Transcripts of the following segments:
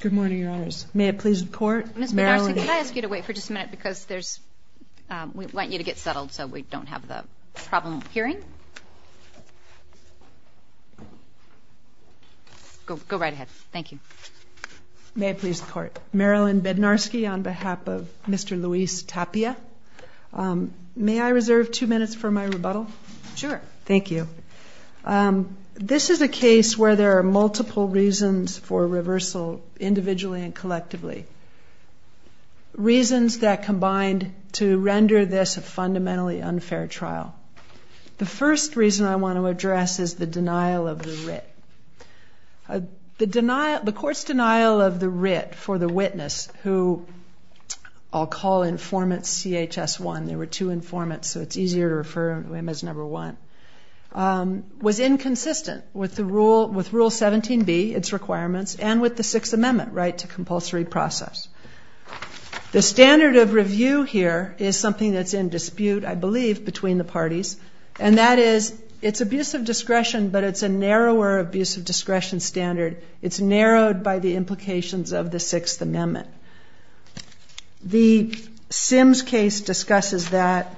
Good morning, Your Honors. May it please the Court? Ms. Bednarski, could I ask you to wait for just a minute because there's we want you to get settled so we don't have the problem of hearing. Go right ahead. Thank you. May it please the Court. Marilyn Bednarski on behalf of Mr. Luis Tapia. May I reserve two minutes for my rebuttal? Sure. Thank you. This is a case where there are multiple reasons for reversal individually and collectively. Reasons that combined to render this a fundamentally unfair trial. The first reason I want to address is the denial of the writ. The court's denial of the writ for the witness, who I'll call informant CHS1. There were two informants, so it's easier to refer to him as number one. Was inconsistent with Rule 17B, its requirements, and with the Sixth Amendment right to compulsory process. The standard of review here is something that's in dispute, I believe, between the parties, and that is it's abusive discretion, but it's a narrower abusive discretion standard. It's narrowed by the implications of the Sixth Amendment. The Sims case discusses that,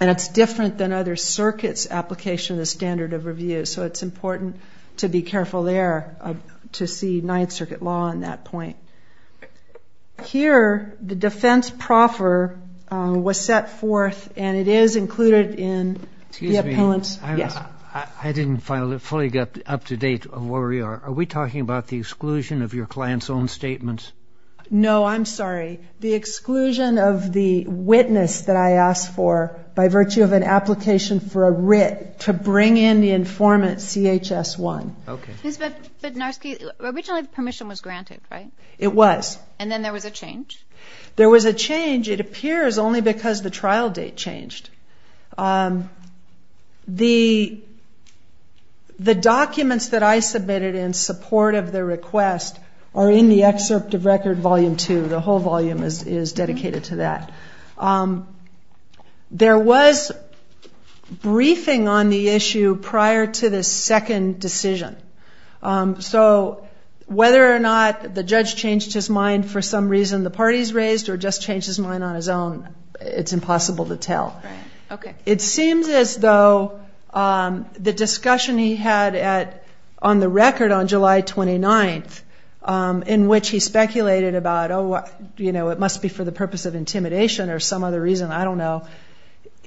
and it's different than other circuits' application of the standard of review, so it's important to be careful there to see Ninth Circuit law on that point. Here, the defense proffer was set forth, and it is included in the appellant's Yes. I didn't fully get up to date of where we are. Are we talking about the exclusion of your client's own statements? No. I'm sorry. The exclusion of the witness that I asked for by virtue of an application for a writ to bring in the informant CHS1. Okay. But, Narski, originally the permission was granted, right? It was. And then there was a change? There was a change. It appears only because the trial date changed. The documents that I submitted in support of the request are in the excerpt of Record Volume 2. The whole volume is dedicated to that. There was briefing on the issue prior to the second decision. So whether or not the judge changed his mind for some reason, the parties raised, or just changed his mind on his own, it's impossible to tell. Right. Okay. It seems as though the discussion he had on the record on July 29th, in which he speculated about, oh, you know, it must be for the purpose of intimidation or some other reason, I don't know,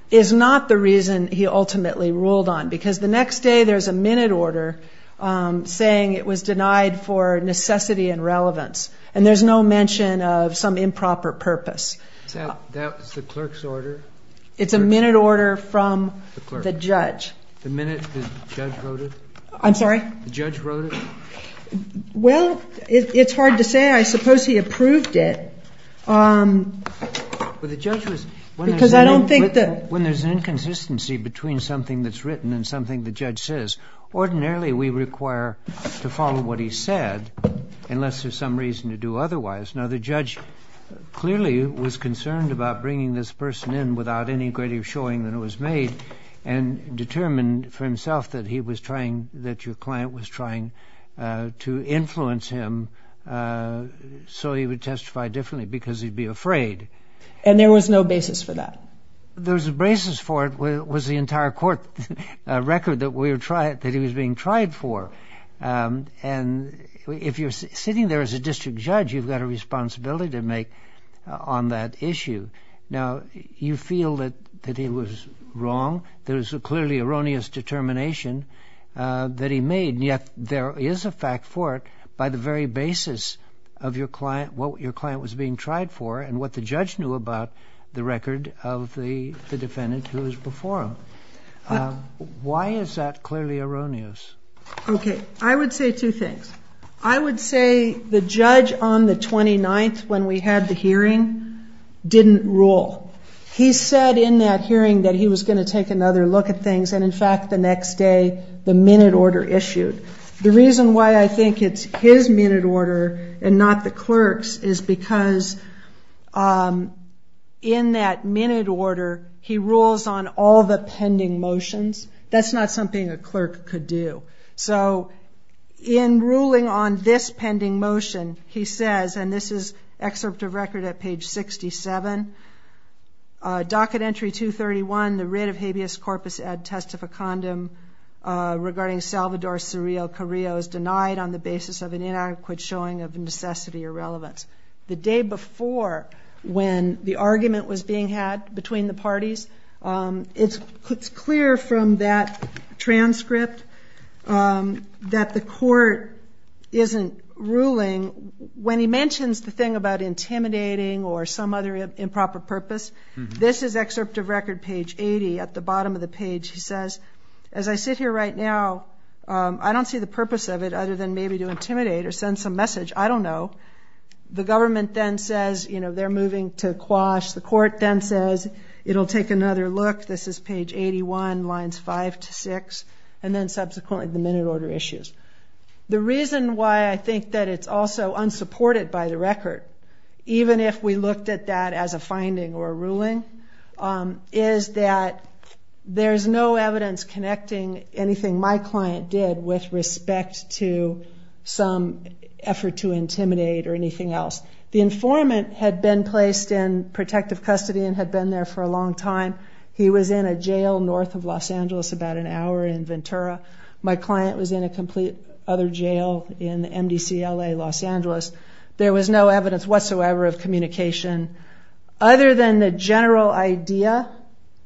is not the reason he ultimately ruled on. Because the next day there's a minute order saying it was denied for necessity and relevance, and there's no mention of some improper purpose. Is that the clerk's order? It's a minute order from the judge. The minute the judge wrote it? I'm sorry? The judge wrote it? Well, it's hard to say. I suppose he approved it. Well, the judge was. Because I don't think that. When there's an inconsistency between something that's written and something the judge says, ordinarily we require to follow what he said, unless there's some reason to do otherwise. Now, the judge clearly was concerned about bringing this person in without any greater showing than it was made and determined for himself that he was trying, that your client was trying to influence him so he would testify differently because he'd be afraid. And there was no basis for that? There was a basis for it was the entire court record that he was being tried for. And if you're sitting there as a district judge, you've got a responsibility to make on that issue. Now, you feel that he was wrong. There was a clearly erroneous determination that he made, and yet there is a fact for it by the very basis of your client, what your client was being tried for, and what the judge knew about the record of the defendant who was before him. Why is that clearly erroneous? Okay. I would say two things. I would say the judge on the 29th, when we had the hearing, didn't rule. He said in that hearing that he was going to take another look at things, and, in fact, the next day the minute order issued. The reason why I think it's his minute order and not the clerk's is because in that minute order, he rules on all the pending motions. That's not something a clerk could do. So in ruling on this pending motion, he says, and this is excerpt of record at page 67, Docket Entry 231, the writ of habeas corpus ad testificandum regarding Salvador Suriel Carrillo is denied on the basis of an inadequate showing of necessity or relevance. The day before, when the argument was being had between the parties, it's clear from that transcript that the court isn't ruling. When he mentions the thing about intimidating or some other improper purpose, this is excerpt of record, page 80. At the bottom of the page, he says, As I sit here right now, I don't see the purpose of it other than maybe to intimidate or send some message. I don't know. The government then says they're moving to quash. The court then says it'll take another look. This is page 81, lines 5 to 6, and then subsequently the minute order issues. The reason why I think that it's also unsupported by the record, even if we looked at that as a finding or a ruling, is that there's no evidence connecting anything my client did with respect to some effort to intimidate or anything else. The informant had been placed in protective custody and had been there for a long time. He was in a jail north of Los Angeles about an hour in Ventura. My client was in a complete other jail in MDCLA Los Angeles. There was no evidence whatsoever of communication. Other than the general idea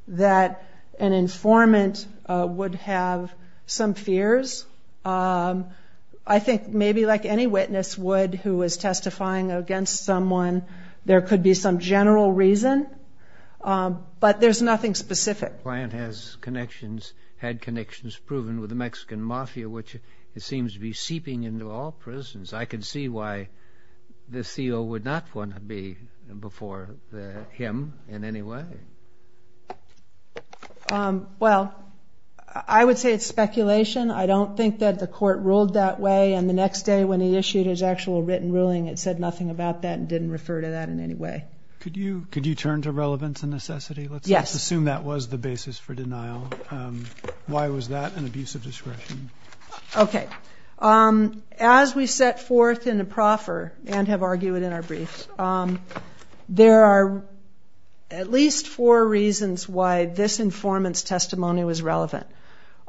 that an informant would have some fears, I think maybe like any witness would who was testifying against someone, there could be some general reason, but there's nothing specific. The client had connections proven with the Mexican mafia, which it seems to be seeping into all prisons. I can see why the CO would not want to be before him in any way. Well, I would say it's speculation. I don't think that the court ruled that way, and the next day when he issued his actual written ruling, it said nothing about that and didn't refer to that in any way. Could you turn to relevance and necessity? Yes. Let's assume that was the basis for denial. Why was that an abuse of discretion? Okay. As we set forth in the proffer and have argued in our briefs, there are at least four reasons why this informant's testimony was relevant.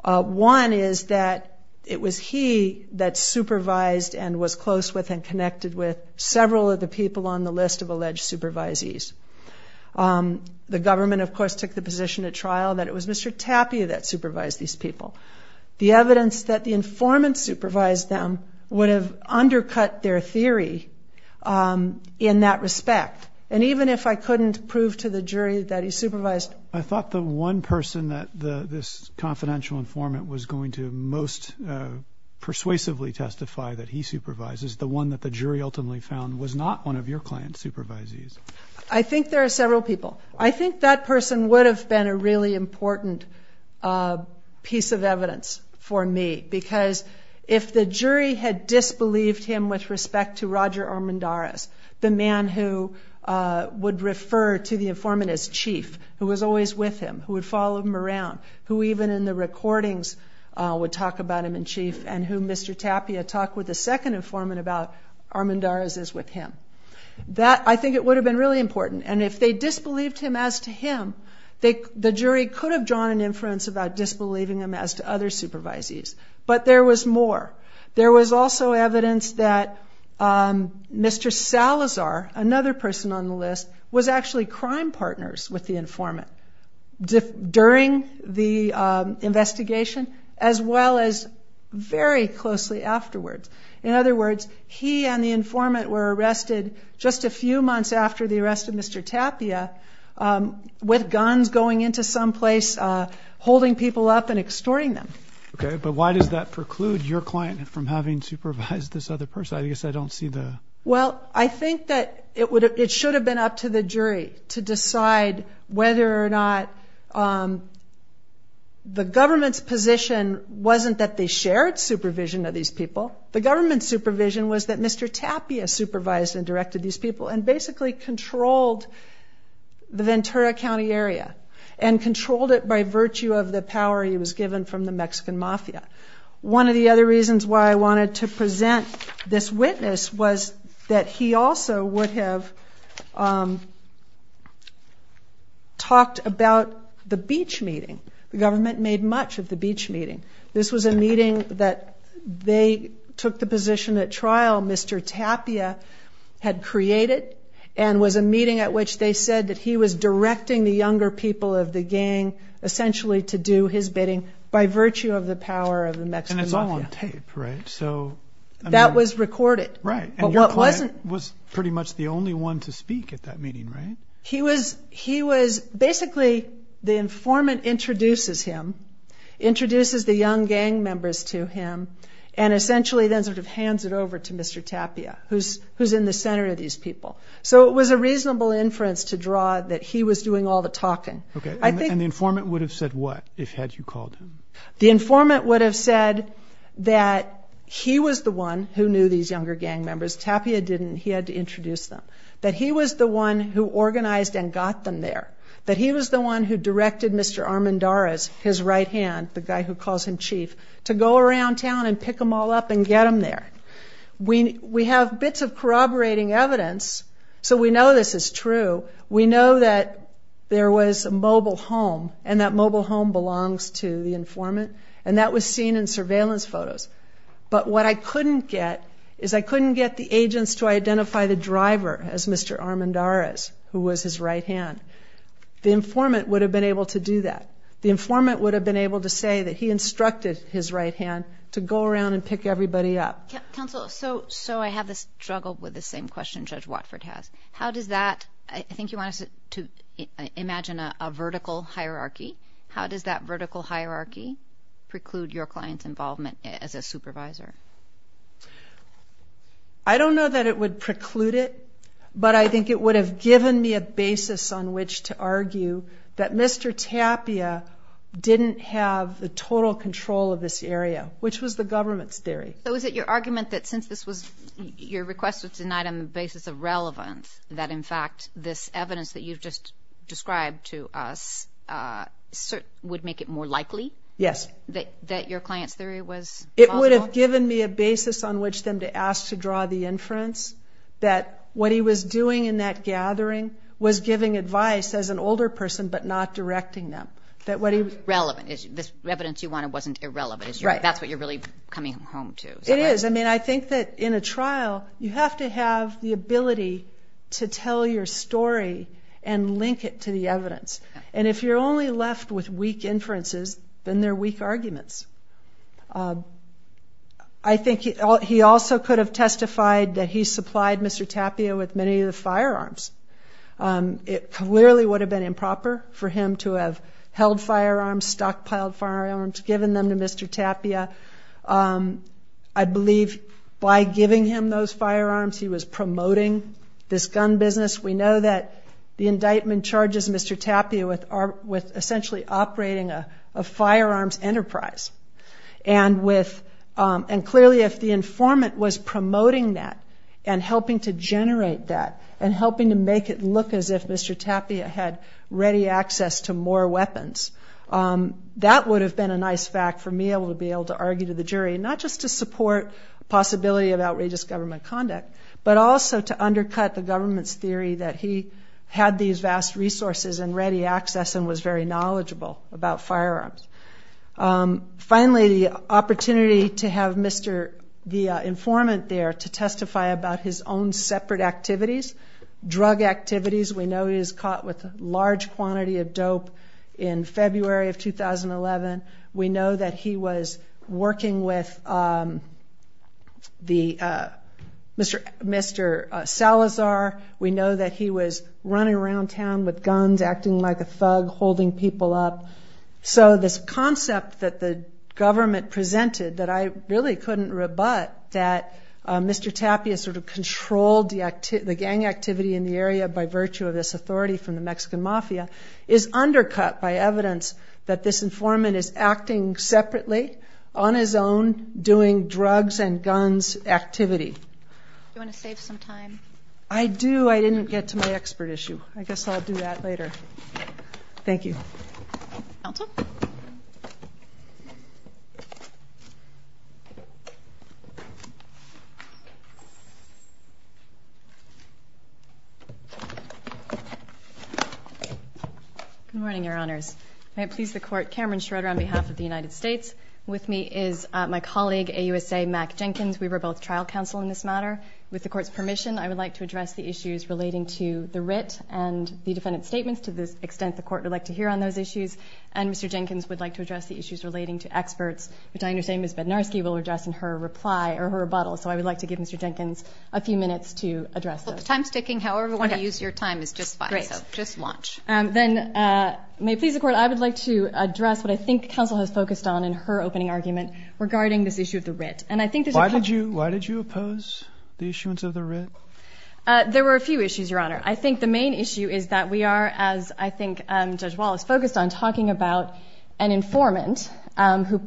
One is that it was he that supervised and was close with and connected with several of the people on the list of alleged supervisees. The government, of course, took the position at trial that it was Mr. Tapia that supervised these people. The evidence that the informant supervised them would have undercut their theory in that respect, and even if I couldn't prove to the jury that he supervised them. I thought the one person that this confidential informant was going to most persuasively testify that he supervises, the one that the jury ultimately found, was not one of your client's supervisees. I think there are several people. I think that person would have been a really important piece of evidence for me because if the jury had disbelieved him with respect to Roger Armendariz, the man who would refer to the informant as chief, who was always with him, who would follow him around, who even in the recordings would talk about him in chief, and who Mr. Tapia talked with the second informant about, Armendariz is with him. I think it would have been really important. And if they disbelieved him as to him, the jury could have drawn an inference about disbelieving him as to other supervisees. But there was more. There was also evidence that Mr. Salazar, another person on the list, was actually crime partners with the informant during the investigation as well as very closely afterwards. In other words, he and the informant were arrested just a few months after the arrest of Mr. Tapia with guns going into some place, holding people up and extorting them. Okay, but why does that preclude your client from having supervised this other person? I guess I don't see the... Well, I think that it should have been up to the jury to decide whether or not the government's position wasn't that they shared supervision of these people. The government's supervision was that Mr. Tapia supervised and directed these people and basically controlled the Ventura County area and controlled it by virtue of the power he was given from the Mexican mafia. One of the other reasons why I wanted to present this witness was that he also would have talked about the beach meeting. The government made much of the beach meeting. This was a meeting that they took the position at trial Mr. Tapia had created and was a meeting at which they said that he was directing the younger people of the gang essentially to do his bidding by virtue of the power of the Mexican mafia. And it's all on tape, right? That was recorded. Right, and your client was pretty much the only one to speak at that meeting, right? He was... Basically, the informant introduces him, introduces the young gang members to him, and essentially then sort of hands it over to Mr. Tapia, who's in the center of these people. So it was a reasonable inference to draw that he was doing all the talking. Okay, and the informant would have said what if had you called him? The informant would have said that he was the one who knew these younger gang members. Tapia didn't. He had to introduce them. That he was the one who organized and got them there. That he was the one who directed Mr. Armendariz, his right hand, the guy who calls him chief, to go around town and pick them all up and get them there. We have bits of corroborating evidence, so we know this is true. We know that there was a mobile home, and that mobile home belongs to the informant, and that was seen in surveillance photos. But what I couldn't get is I couldn't get the agents to identify the driver as Mr. Armendariz, who was his right hand. The informant would have been able to do that. The informant would have been able to say that he instructed his right hand to go around and pick everybody up. Counsel, so I have this struggle with the same question Judge Watford has. How does that, I think you want us to imagine a vertical hierarchy. How does that vertical hierarchy preclude your client's involvement as a supervisor? I don't know that it would preclude it, but I think it would have given me a basis on which to argue that Mr. Tapia didn't have the total control of this area, which was the government's theory. So is it your argument that since this was, your request was denied on the basis of relevance, that, in fact, this evidence that you've just described to us would make it more likely? Yes. That your client's theory was plausible? It would have given me a basis on which then to ask to draw the inference that what he was doing in that gathering was giving advice as an older person, but not directing them. Relevant. This evidence you wanted wasn't irrelevant. That's what you're really coming home to. It is. I mean, I think that in a trial, you have to have the ability to tell your story and link it to the evidence. And if you're only left with weak inferences, then they're weak arguments. I think he also could have testified that he supplied Mr. Tapia with many of the firearms. It clearly would have been improper for him to have held firearms, stockpiled firearms, given them to Mr. Tapia. I believe by giving him those firearms, he was promoting this gun business. We know that the indictment charges Mr. Tapia with essentially operating a firearms enterprise. And clearly, if the informant was promoting that and helping to generate that and helping to make it look as if Mr. Tapia had ready access to more weapons, that would have been a nice fact for me to be able to argue to the jury, not just to support the possibility of outrageous government conduct, but also to undercut the government's theory that he had these vast resources and ready access and was very knowledgeable about firearms. Finally, the opportunity to have the informant there to testify about his own separate activities, drug activities. We know he was caught with a large quantity of dope in February of 2011. We know that he was working with Mr. Salazar. We know that he was running around town with guns, acting like a thug, holding people up. So this concept that the government presented that I really couldn't rebut, that Mr. Tapia sort of controlled the gang activity in the area by virtue of this authority from the Mexican mafia, is undercut by evidence that this informant is acting separately, on his own, doing drugs and guns activity. Do you want to save some time? I do. I didn't get to my expert issue. I guess I'll do that later. Thank you. Elton? Good morning, Your Honors. May it please the Court, Cameron Schroeder on behalf of the United States. With me is my colleague, AUSA Mack Jenkins. We were both trial counsel in this matter. With the Court's permission, I would like to address the issues relating to the writ and the defendant's statements. To this extent, the Court would like to hear on those issues. And Mr. Jenkins would like to address the issues relating to experts, which I understand Ms. Bednarski will address in her reply or her rebuttal. So I would like to give Mr. Jenkins a few minutes to address those. Well, the time's ticking. However you want to use your time is just fine. Great. So just watch. Then, may it please the Court, I would like to address what I think counsel has focused on in her opening argument regarding this issue of the writ. And I think there's a couple— Why did you oppose the issuance of the writ? There were a few issues, Your Honor. I think the main issue is that we are, as I think Judge Wallace focused on, talking about an informant who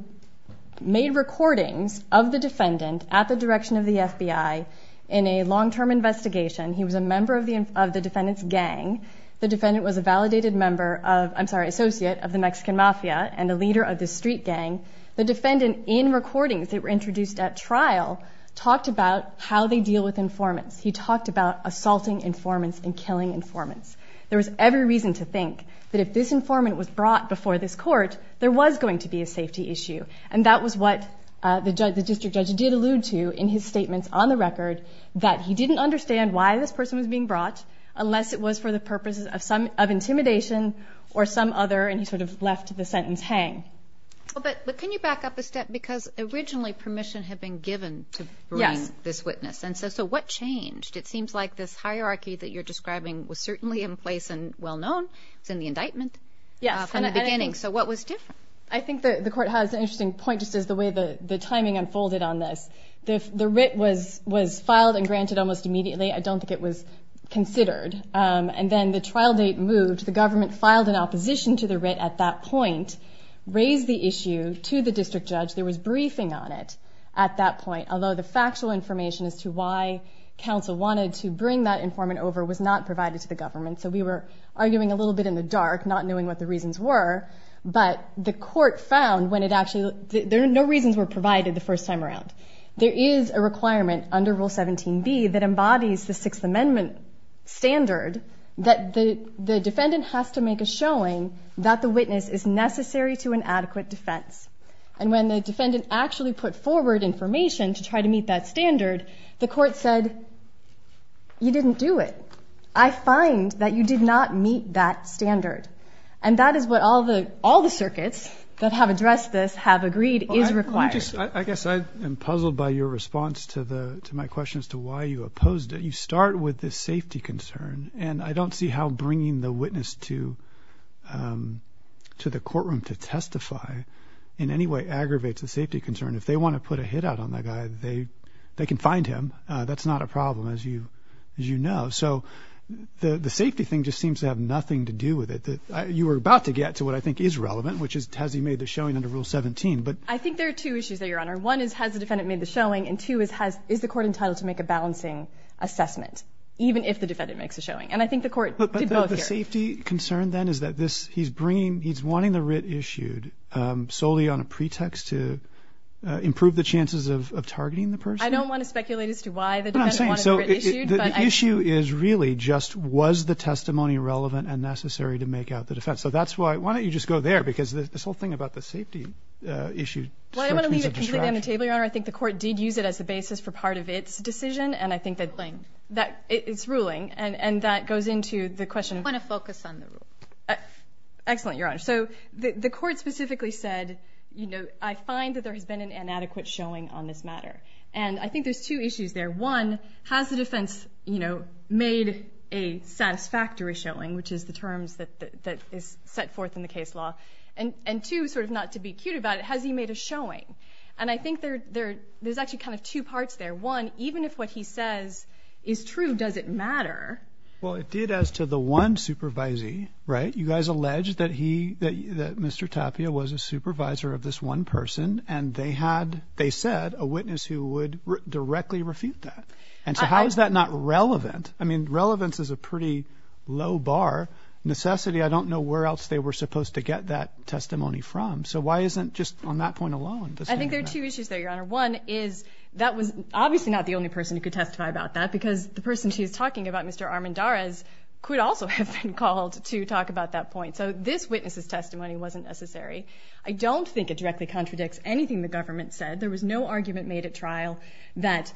made recordings of the defendant at the direction of the FBI in a long-term investigation. He was a member of the defendant's gang. The defendant was a validated member of—I'm sorry, associate of the Mexican Mafia and a leader of the street gang. The defendant, in recordings that were introduced at trial, talked about how they deal with informants. He talked about assaulting informants and killing informants. There was every reason to think that if this informant was brought before this court, there was going to be a safety issue. And that was what the district judge did allude to in his statements on the record, that he didn't understand why this person was being brought unless it was for the purposes of intimidation or some other— and he sort of left the sentence hang. But can you back up a step? Because originally permission had been given to bring this witness. And so what changed? It seems like this hierarchy that you're describing was certainly in place and well-known. It was in the indictment from the beginning. So what was different? I think the court has an interesting point, just as the way the timing unfolded on this. The writ was filed and granted almost immediately. I don't think it was considered. And then the trial date moved. The government filed an opposition to the writ at that point, raised the issue to the district judge. There was briefing on it at that point, although the factual information as to why counsel wanted to bring that informant over was not provided to the government. So we were arguing a little bit in the dark, not knowing what the reasons were. But the court found when it actually— no reasons were provided the first time around. There is a requirement under Rule 17b that embodies the Sixth Amendment standard that the defendant has to make a showing that the witness is necessary to an adequate defense. And when the defendant actually put forward information to try to meet that standard, the court said, you didn't do it. I find that you did not meet that standard. And that is what all the circuits that have addressed this have agreed is required. I guess I am puzzled by your response to my question as to why you opposed it. You start with the safety concern, and I don't see how bringing the witness to the courtroom to testify in any way aggravates the safety concern. If they want to put a hit out on the guy, they can find him. That's not a problem, as you know. So the safety thing just seems to have nothing to do with it. You were about to get to what I think is relevant, which is has he made the showing under Rule 17. I think there are two issues there, Your Honor. One is has the defendant made the showing, and two is the court entitled to make a balancing assessment, even if the defendant makes a showing. And I think the court did both here. But the safety concern then is that he's wanting the writ issued solely on a pretext to improve the chances of targeting the person? I don't want to speculate as to why the defendant wanted the writ issued. The issue is really just was the testimony relevant and necessary to make out the defense. So that's why. Why don't you just go there? Because this whole thing about the safety issue struck me as a distraction. Well, I'm going to leave it on the table, Your Honor. I think the court did use it as the basis for part of its decision, and I think that it's ruling. And that goes into the question. I want to focus on the rule. Excellent, Your Honor. So the court specifically said, you know, I find that there has been an inadequate showing on this matter. And I think there's two issues there. One, has the defense, you know, made a satisfactory showing, which is the terms that is set forth in the case law? And two, sort of not to be cute about it, has he made a showing? And I think there's actually kind of two parts there. One, even if what he says is true, does it matter? Well, it did as to the one supervisee, right? You guys alleged that Mr. Tapia was a supervisor of this one person, and they said a witness who would directly refute that. And so how is that not relevant? I mean, relevance is a pretty low bar. Necessity, I don't know where else they were supposed to get that testimony from. So why isn't just on that point alone? I think there are two issues there, Your Honor. One is that was obviously not the only person who could testify about that because the person she was talking about, Mr. Armendariz, could also have been called to talk about that point. So this witness's testimony wasn't necessary. I don't think it directly contradicts anything the government said. There was no argument made at trial that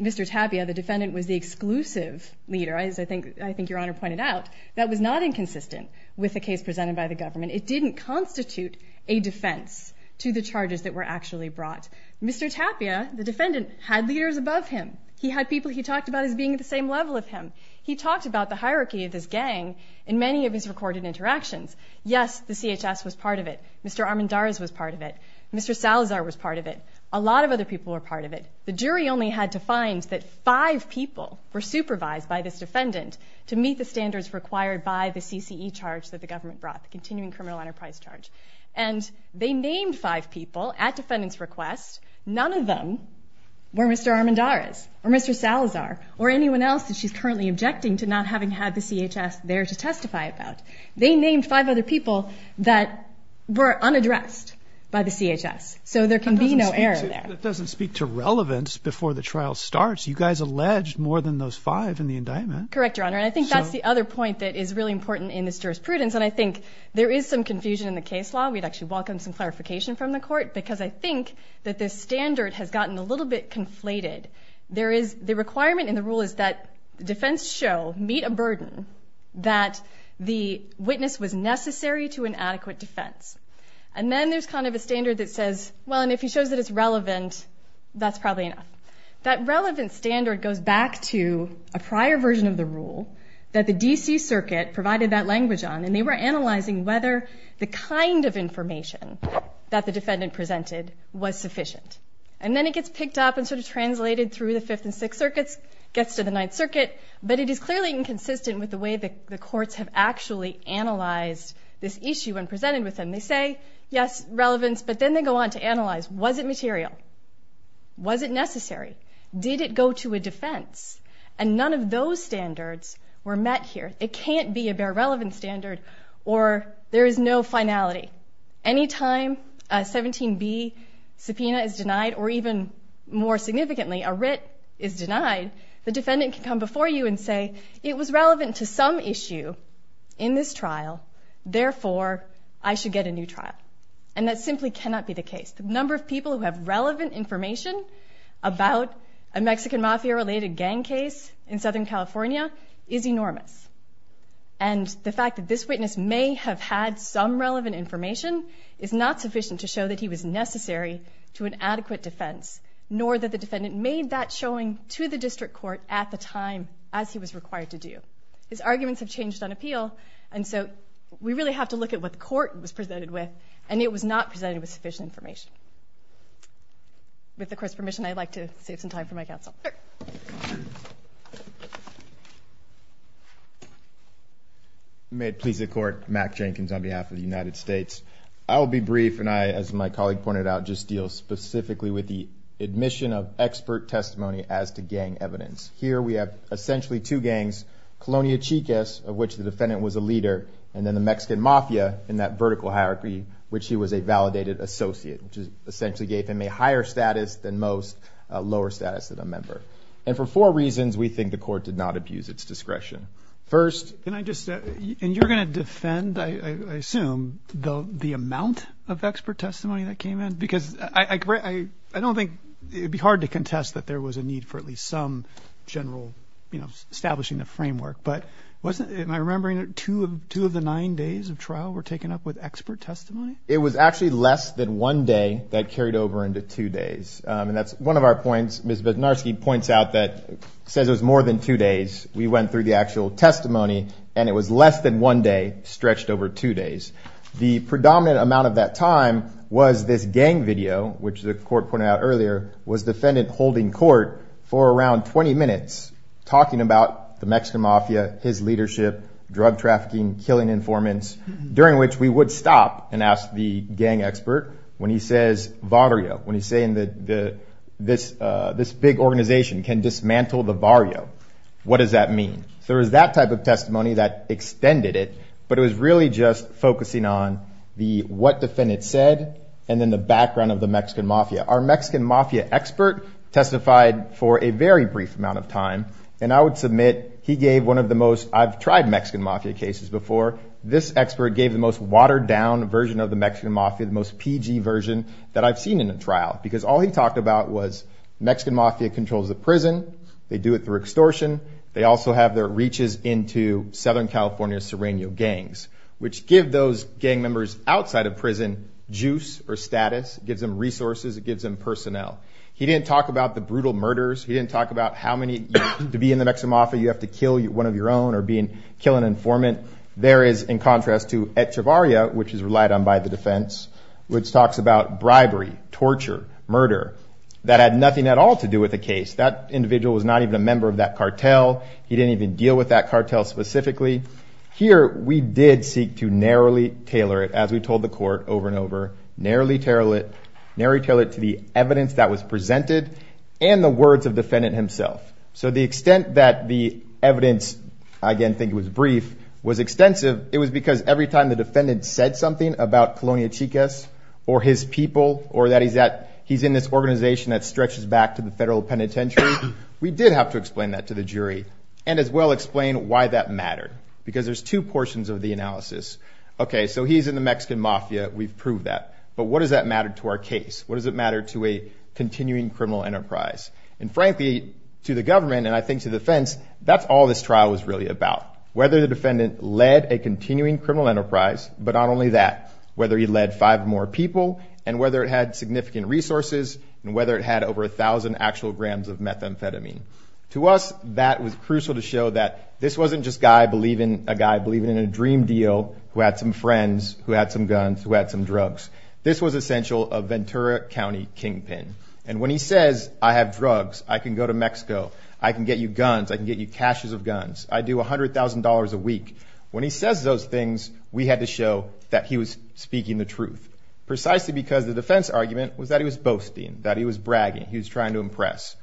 Mr. Tapia, the defendant, was the exclusive leader. As I think Your Honor pointed out, that was not inconsistent with the case presented by the government. It didn't constitute a defense to the charges that were actually brought. Mr. Tapia, the defendant, had leaders above him. He had people he talked about as being at the same level as him. He talked about the hierarchy of this gang in many of his recorded interactions. Yes, the CHS was part of it. Mr. Armendariz was part of it. Mr. Salazar was part of it. A lot of other people were part of it. The jury only had to find that five people were supervised by this defendant to meet the standards required by the CCE charge that the government brought, the continuing criminal enterprise charge. And they named five people at defendant's request. None of them were Mr. Armendariz or Mr. Salazar or anyone else that she's currently objecting to not having had the CHS there to testify about. They named five other people that were unaddressed by the CHS. So there can be no error there. That doesn't speak to relevance before the trial starts. You guys alleged more than those five in the indictment. Correct, Your Honor. And I think that's the other point that is really important in this jurisprudence, and I think there is some confusion in the case law. We'd actually welcome some clarification from the court because I think that this standard has gotten a little bit conflated. The requirement in the rule is that defense show, meet a burden, that the witness was necessary to an adequate defense. And then there's kind of a standard that says, well, and if he shows that it's relevant, that's probably enough. That relevant standard goes back to a prior version of the rule that the D.C. Circuit provided that language on, and they were analyzing whether the kind of information that the defendant presented was sufficient. And then it gets picked up and sort of translated through the Fifth and Sixth Circuits, gets to the Ninth Circuit, but it is clearly inconsistent with the way the courts have actually analyzed this issue when presented with them. And they say, yes, relevance, but then they go on to analyze, was it material? Was it necessary? Did it go to a defense? And none of those standards were met here. It can't be a bare relevance standard, or there is no finality. Anytime a 17B subpoena is denied, or even more significantly, a writ is denied, the defendant can come before you and say, it was relevant to some issue in this trial, therefore I should get a new trial. And that simply cannot be the case. The number of people who have relevant information about a Mexican Mafia-related gang case in Southern California is enormous. And the fact that this witness may have had some relevant information is not sufficient to show that he was necessary to an adequate defense, nor that the defendant made that showing to the district court at the time as he was required to do. His arguments have changed on appeal, and so we really have to look at what the court was presented with, and it was not presented with sufficient information. With the Court's permission, I'd like to save some time for my counsel. Sure. May it please the Court. Mack Jenkins on behalf of the United States. I will be brief, and I, as my colleague pointed out, just deal specifically with the admission of expert testimony as to gang evidence. Here we have essentially two gangs, Colonia Chicas, of which the defendant was a leader, and then the Mexican Mafia in that vertical hierarchy, which he was a validated associate, which essentially gave him a higher status than most, a lower status than a member. And for four reasons, we think the court did not abuse its discretion. First, And you're going to defend, I assume, the amount of expert testimony that came in? Because I don't think it would be hard to contest that there was a need for at least some general, you know, establishing a framework. But am I remembering that two of the nine days of trial were taken up with expert testimony? It was actually less than one day that carried over into two days. And that's one of our points. Ms. Bednarski points out that it says it was more than two days. We went through the actual testimony, and it was less than one day stretched over two days. The predominant amount of that time was this gang video, which the court pointed out earlier, was defendant holding court for around 20 minutes talking about the Mexican Mafia, his leadership, drug trafficking, killing informants, during which we would stop and ask the gang expert when he says vario, when he's saying that this big organization can dismantle the vario, what does that mean? So there was that type of testimony that extended it, but it was really just focusing on the what defendant said and then the background of the Mexican Mafia. Our Mexican Mafia expert testified for a very brief amount of time, and I would submit he gave one of the most, I've tried Mexican Mafia cases before, this expert gave the most watered-down version of the Mexican Mafia, the most PG version that I've seen in a trial, because all he talked about was Mexican Mafia controls the prison. They do it through extortion. They also have their reaches into Southern California's Sereno gangs, which give those gang members outside of prison juice or status. It gives them resources. It gives them personnel. He didn't talk about the brutal murders. He didn't talk about how many, to be in the Mexican Mafia, you have to kill one of your own or kill an informant. There is, in contrast to Echavarria, which is relied on by the defense, which talks about bribery, torture, murder. That had nothing at all to do with the case. That individual was not even a member of that cartel. He didn't even deal with that cartel specifically. Here we did seek to narrowly tailor it, as we told the court over and over, narrowly tailor it to the evidence that was presented and the words of the defendant himself. So the extent that the evidence, I again think it was brief, was extensive, it was because every time the defendant said something about Colonia Chicas or his people or that he's in this organization that stretches back to the federal penitentiary, we did have to explain that to the jury and as well explain why that mattered because there's two portions of the analysis. Okay, so he's in the Mexican Mafia. We've proved that, but what does that matter to our case? What does it matter to a continuing criminal enterprise? And frankly, to the government and I think to the defense, that's all this trial was really about, whether the defendant led a continuing criminal enterprise, but not only that, whether he led five more people and whether it had significant resources and whether it had over 1,000 actual grams of methamphetamine. To us, that was crucial to show that this wasn't just a guy believing in a dream deal who had some friends, who had some guns, who had some drugs. This was essential of Ventura County Kingpin and when he says, I have drugs, I can go to Mexico, I can get you guns, I can get you caches of guns, I do $100,000 a week, when he says those things, we had to show that he was speaking the truth precisely because the defense argument was that he was boasting, that he was bragging, he was trying to impress.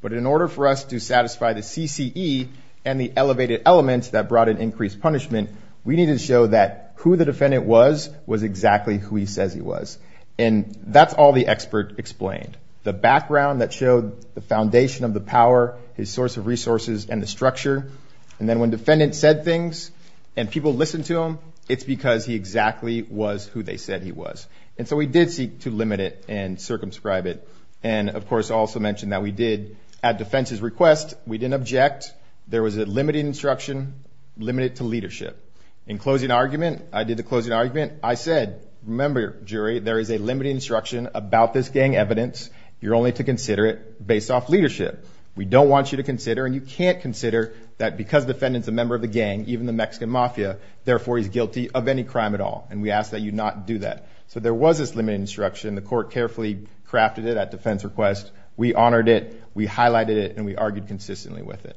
But in order for us to satisfy the CCE and the elevated elements that brought an increased punishment, we needed to show that who the defendant was, was exactly who he says he was. And that's all the expert explained. The background that showed the foundation of the power, his source of resources and the structure, and then when defendants said things and people listened to them, it's because he exactly was who they said he was. And so we did seek to limit it and circumscribe it. And, of course, I also mentioned that we did, at defense's request, we didn't object. There was a limited instruction, limited to leadership. In closing argument, I did the closing argument, I said, remember, jury, there is a limited instruction about this gang evidence. You're only to consider it based off leadership. We don't want you to consider and you can't consider that because the defendant's a member of the gang, even the Mexican mafia, therefore he's guilty of any crime at all. And we ask that you not do that. So there was this limited instruction. The court carefully crafted it at defense's request. We honored it, we highlighted it, and we argued consistently with it.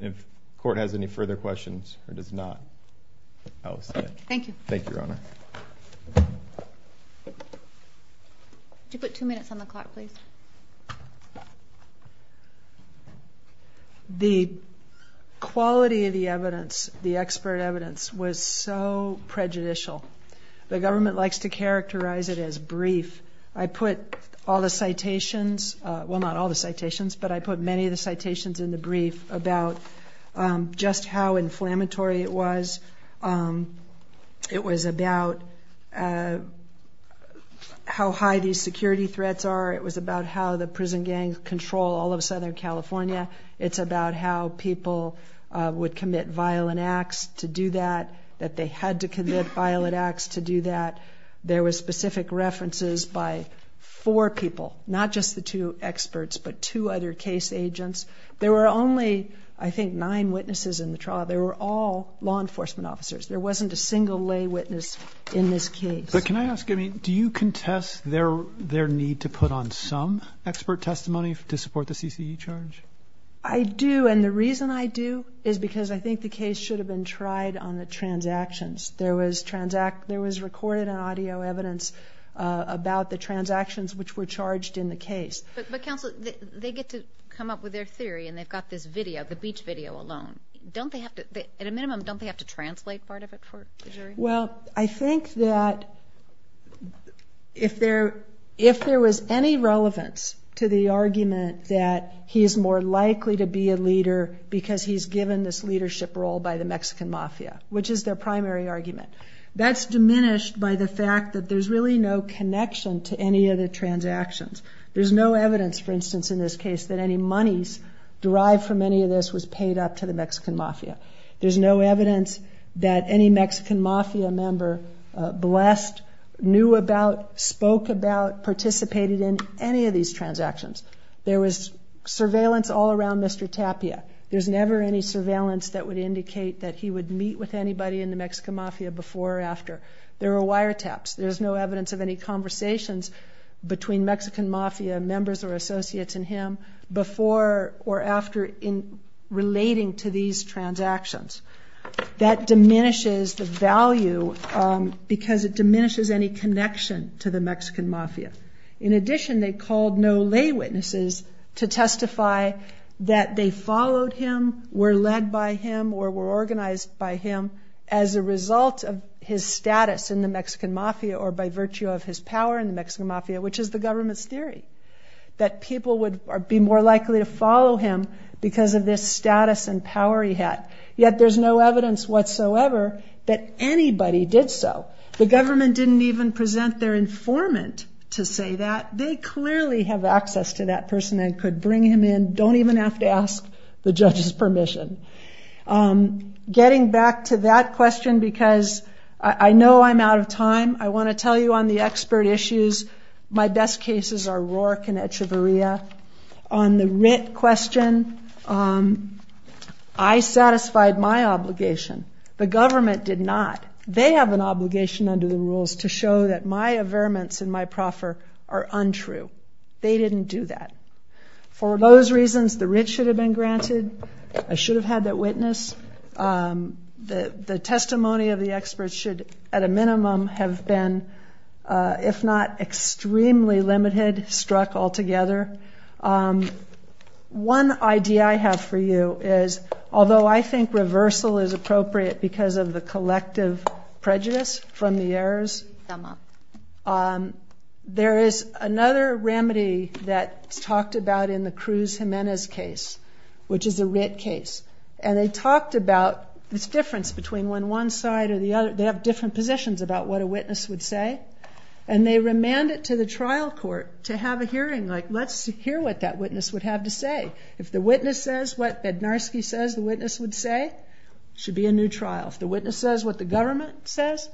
If the court has any further questions or does not, I will say it. Thank you. Could you put two minutes on the clock, please? The quality of the evidence, the expert evidence, was so prejudicial. The government likes to characterize it as brief. I put all the citations, well, not all the citations, but I put many of the citations in the brief about just how inflammatory it was. It was about how high these security threats are. It was about how the prison gangs control all of Southern California. It's about how people would commit violent acts to do that, that they had to commit violent acts to do that. There were specific references by four people, not just the two experts, but two other case agents. There were only, I think, nine witnesses in the trial. They were all law enforcement officers. There wasn't a single lay witness in this case. But can I ask, do you contest their need to put on some expert testimony to support the CCE charge? I do, and the reason I do is because I think the case should have been tried on the transactions. There was recorded audio evidence about the transactions which were charged in the case. But, counsel, they get to come up with their theory, and they've got this video, the beach video alone. At a minimum, don't they have to translate part of it for the jury? Well, I think that if there was any relevance to the argument that he is more likely to be a leader because he's given this leadership role by the Mexican mafia, which is their primary argument, that's diminished by the fact that there's really no connection to any of the transactions. There's no evidence, for instance, in this case, that any monies derived from any of this was paid up to the Mexican mafia. There's no evidence that any Mexican mafia member blessed, knew about, spoke about, participated in any of these transactions. There was surveillance all around Mr. Tapia. There's never any surveillance that would indicate that he would meet with anybody in the Mexican mafia before or after. There were wiretaps. There's no evidence of any conversations between Mexican mafia members or associates and him before or after in relating to these transactions. That diminishes the value because it diminishes any connection to the Mexican mafia. In addition, they called no lay witnesses to testify that they followed him, were led by him, or were organized by him as a result of his status in the Mexican mafia or by virtue of his power in the Mexican mafia, which is the government's theory, that people would be more likely to follow him because of this status and power he had, yet there's no evidence whatsoever that anybody did so. The government didn't even present their informant to say that. They clearly have access to that person and could bring him in, don't even have to ask the judge's permission. Getting back to that question because I know I'm out of time, I want to tell you on the expert issues, my best cases are Roark and Echeverria. On the writ question, I satisfied my obligation. The government did not. They have an obligation under the rules to show that my averments and my proffer are untrue. They didn't do that. For those reasons, the writ should have been granted. I should have had that witness. The testimony of the experts should, at a minimum, have been, if not extremely limited, struck altogether. One idea I have for you is, although I think reversal is appropriate because of the collective prejudice from the errors, there is another remedy that's talked about in the Cruz Jimenez case, which is a writ case. And they talked about this difference between when one side or the other, they have different positions about what a witness would say, and they remand it to the trial court to have a hearing, like let's hear what that witness would have to say. If the witness says what Bednarski says the witness would say, it should be a new trial. If the witness says what the government says,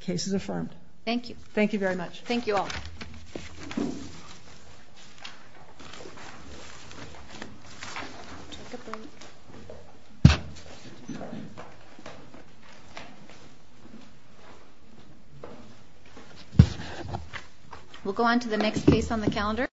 case is affirmed. Thank you. Thank you very much. Thank you all. We'll go on to the next case on the calendar.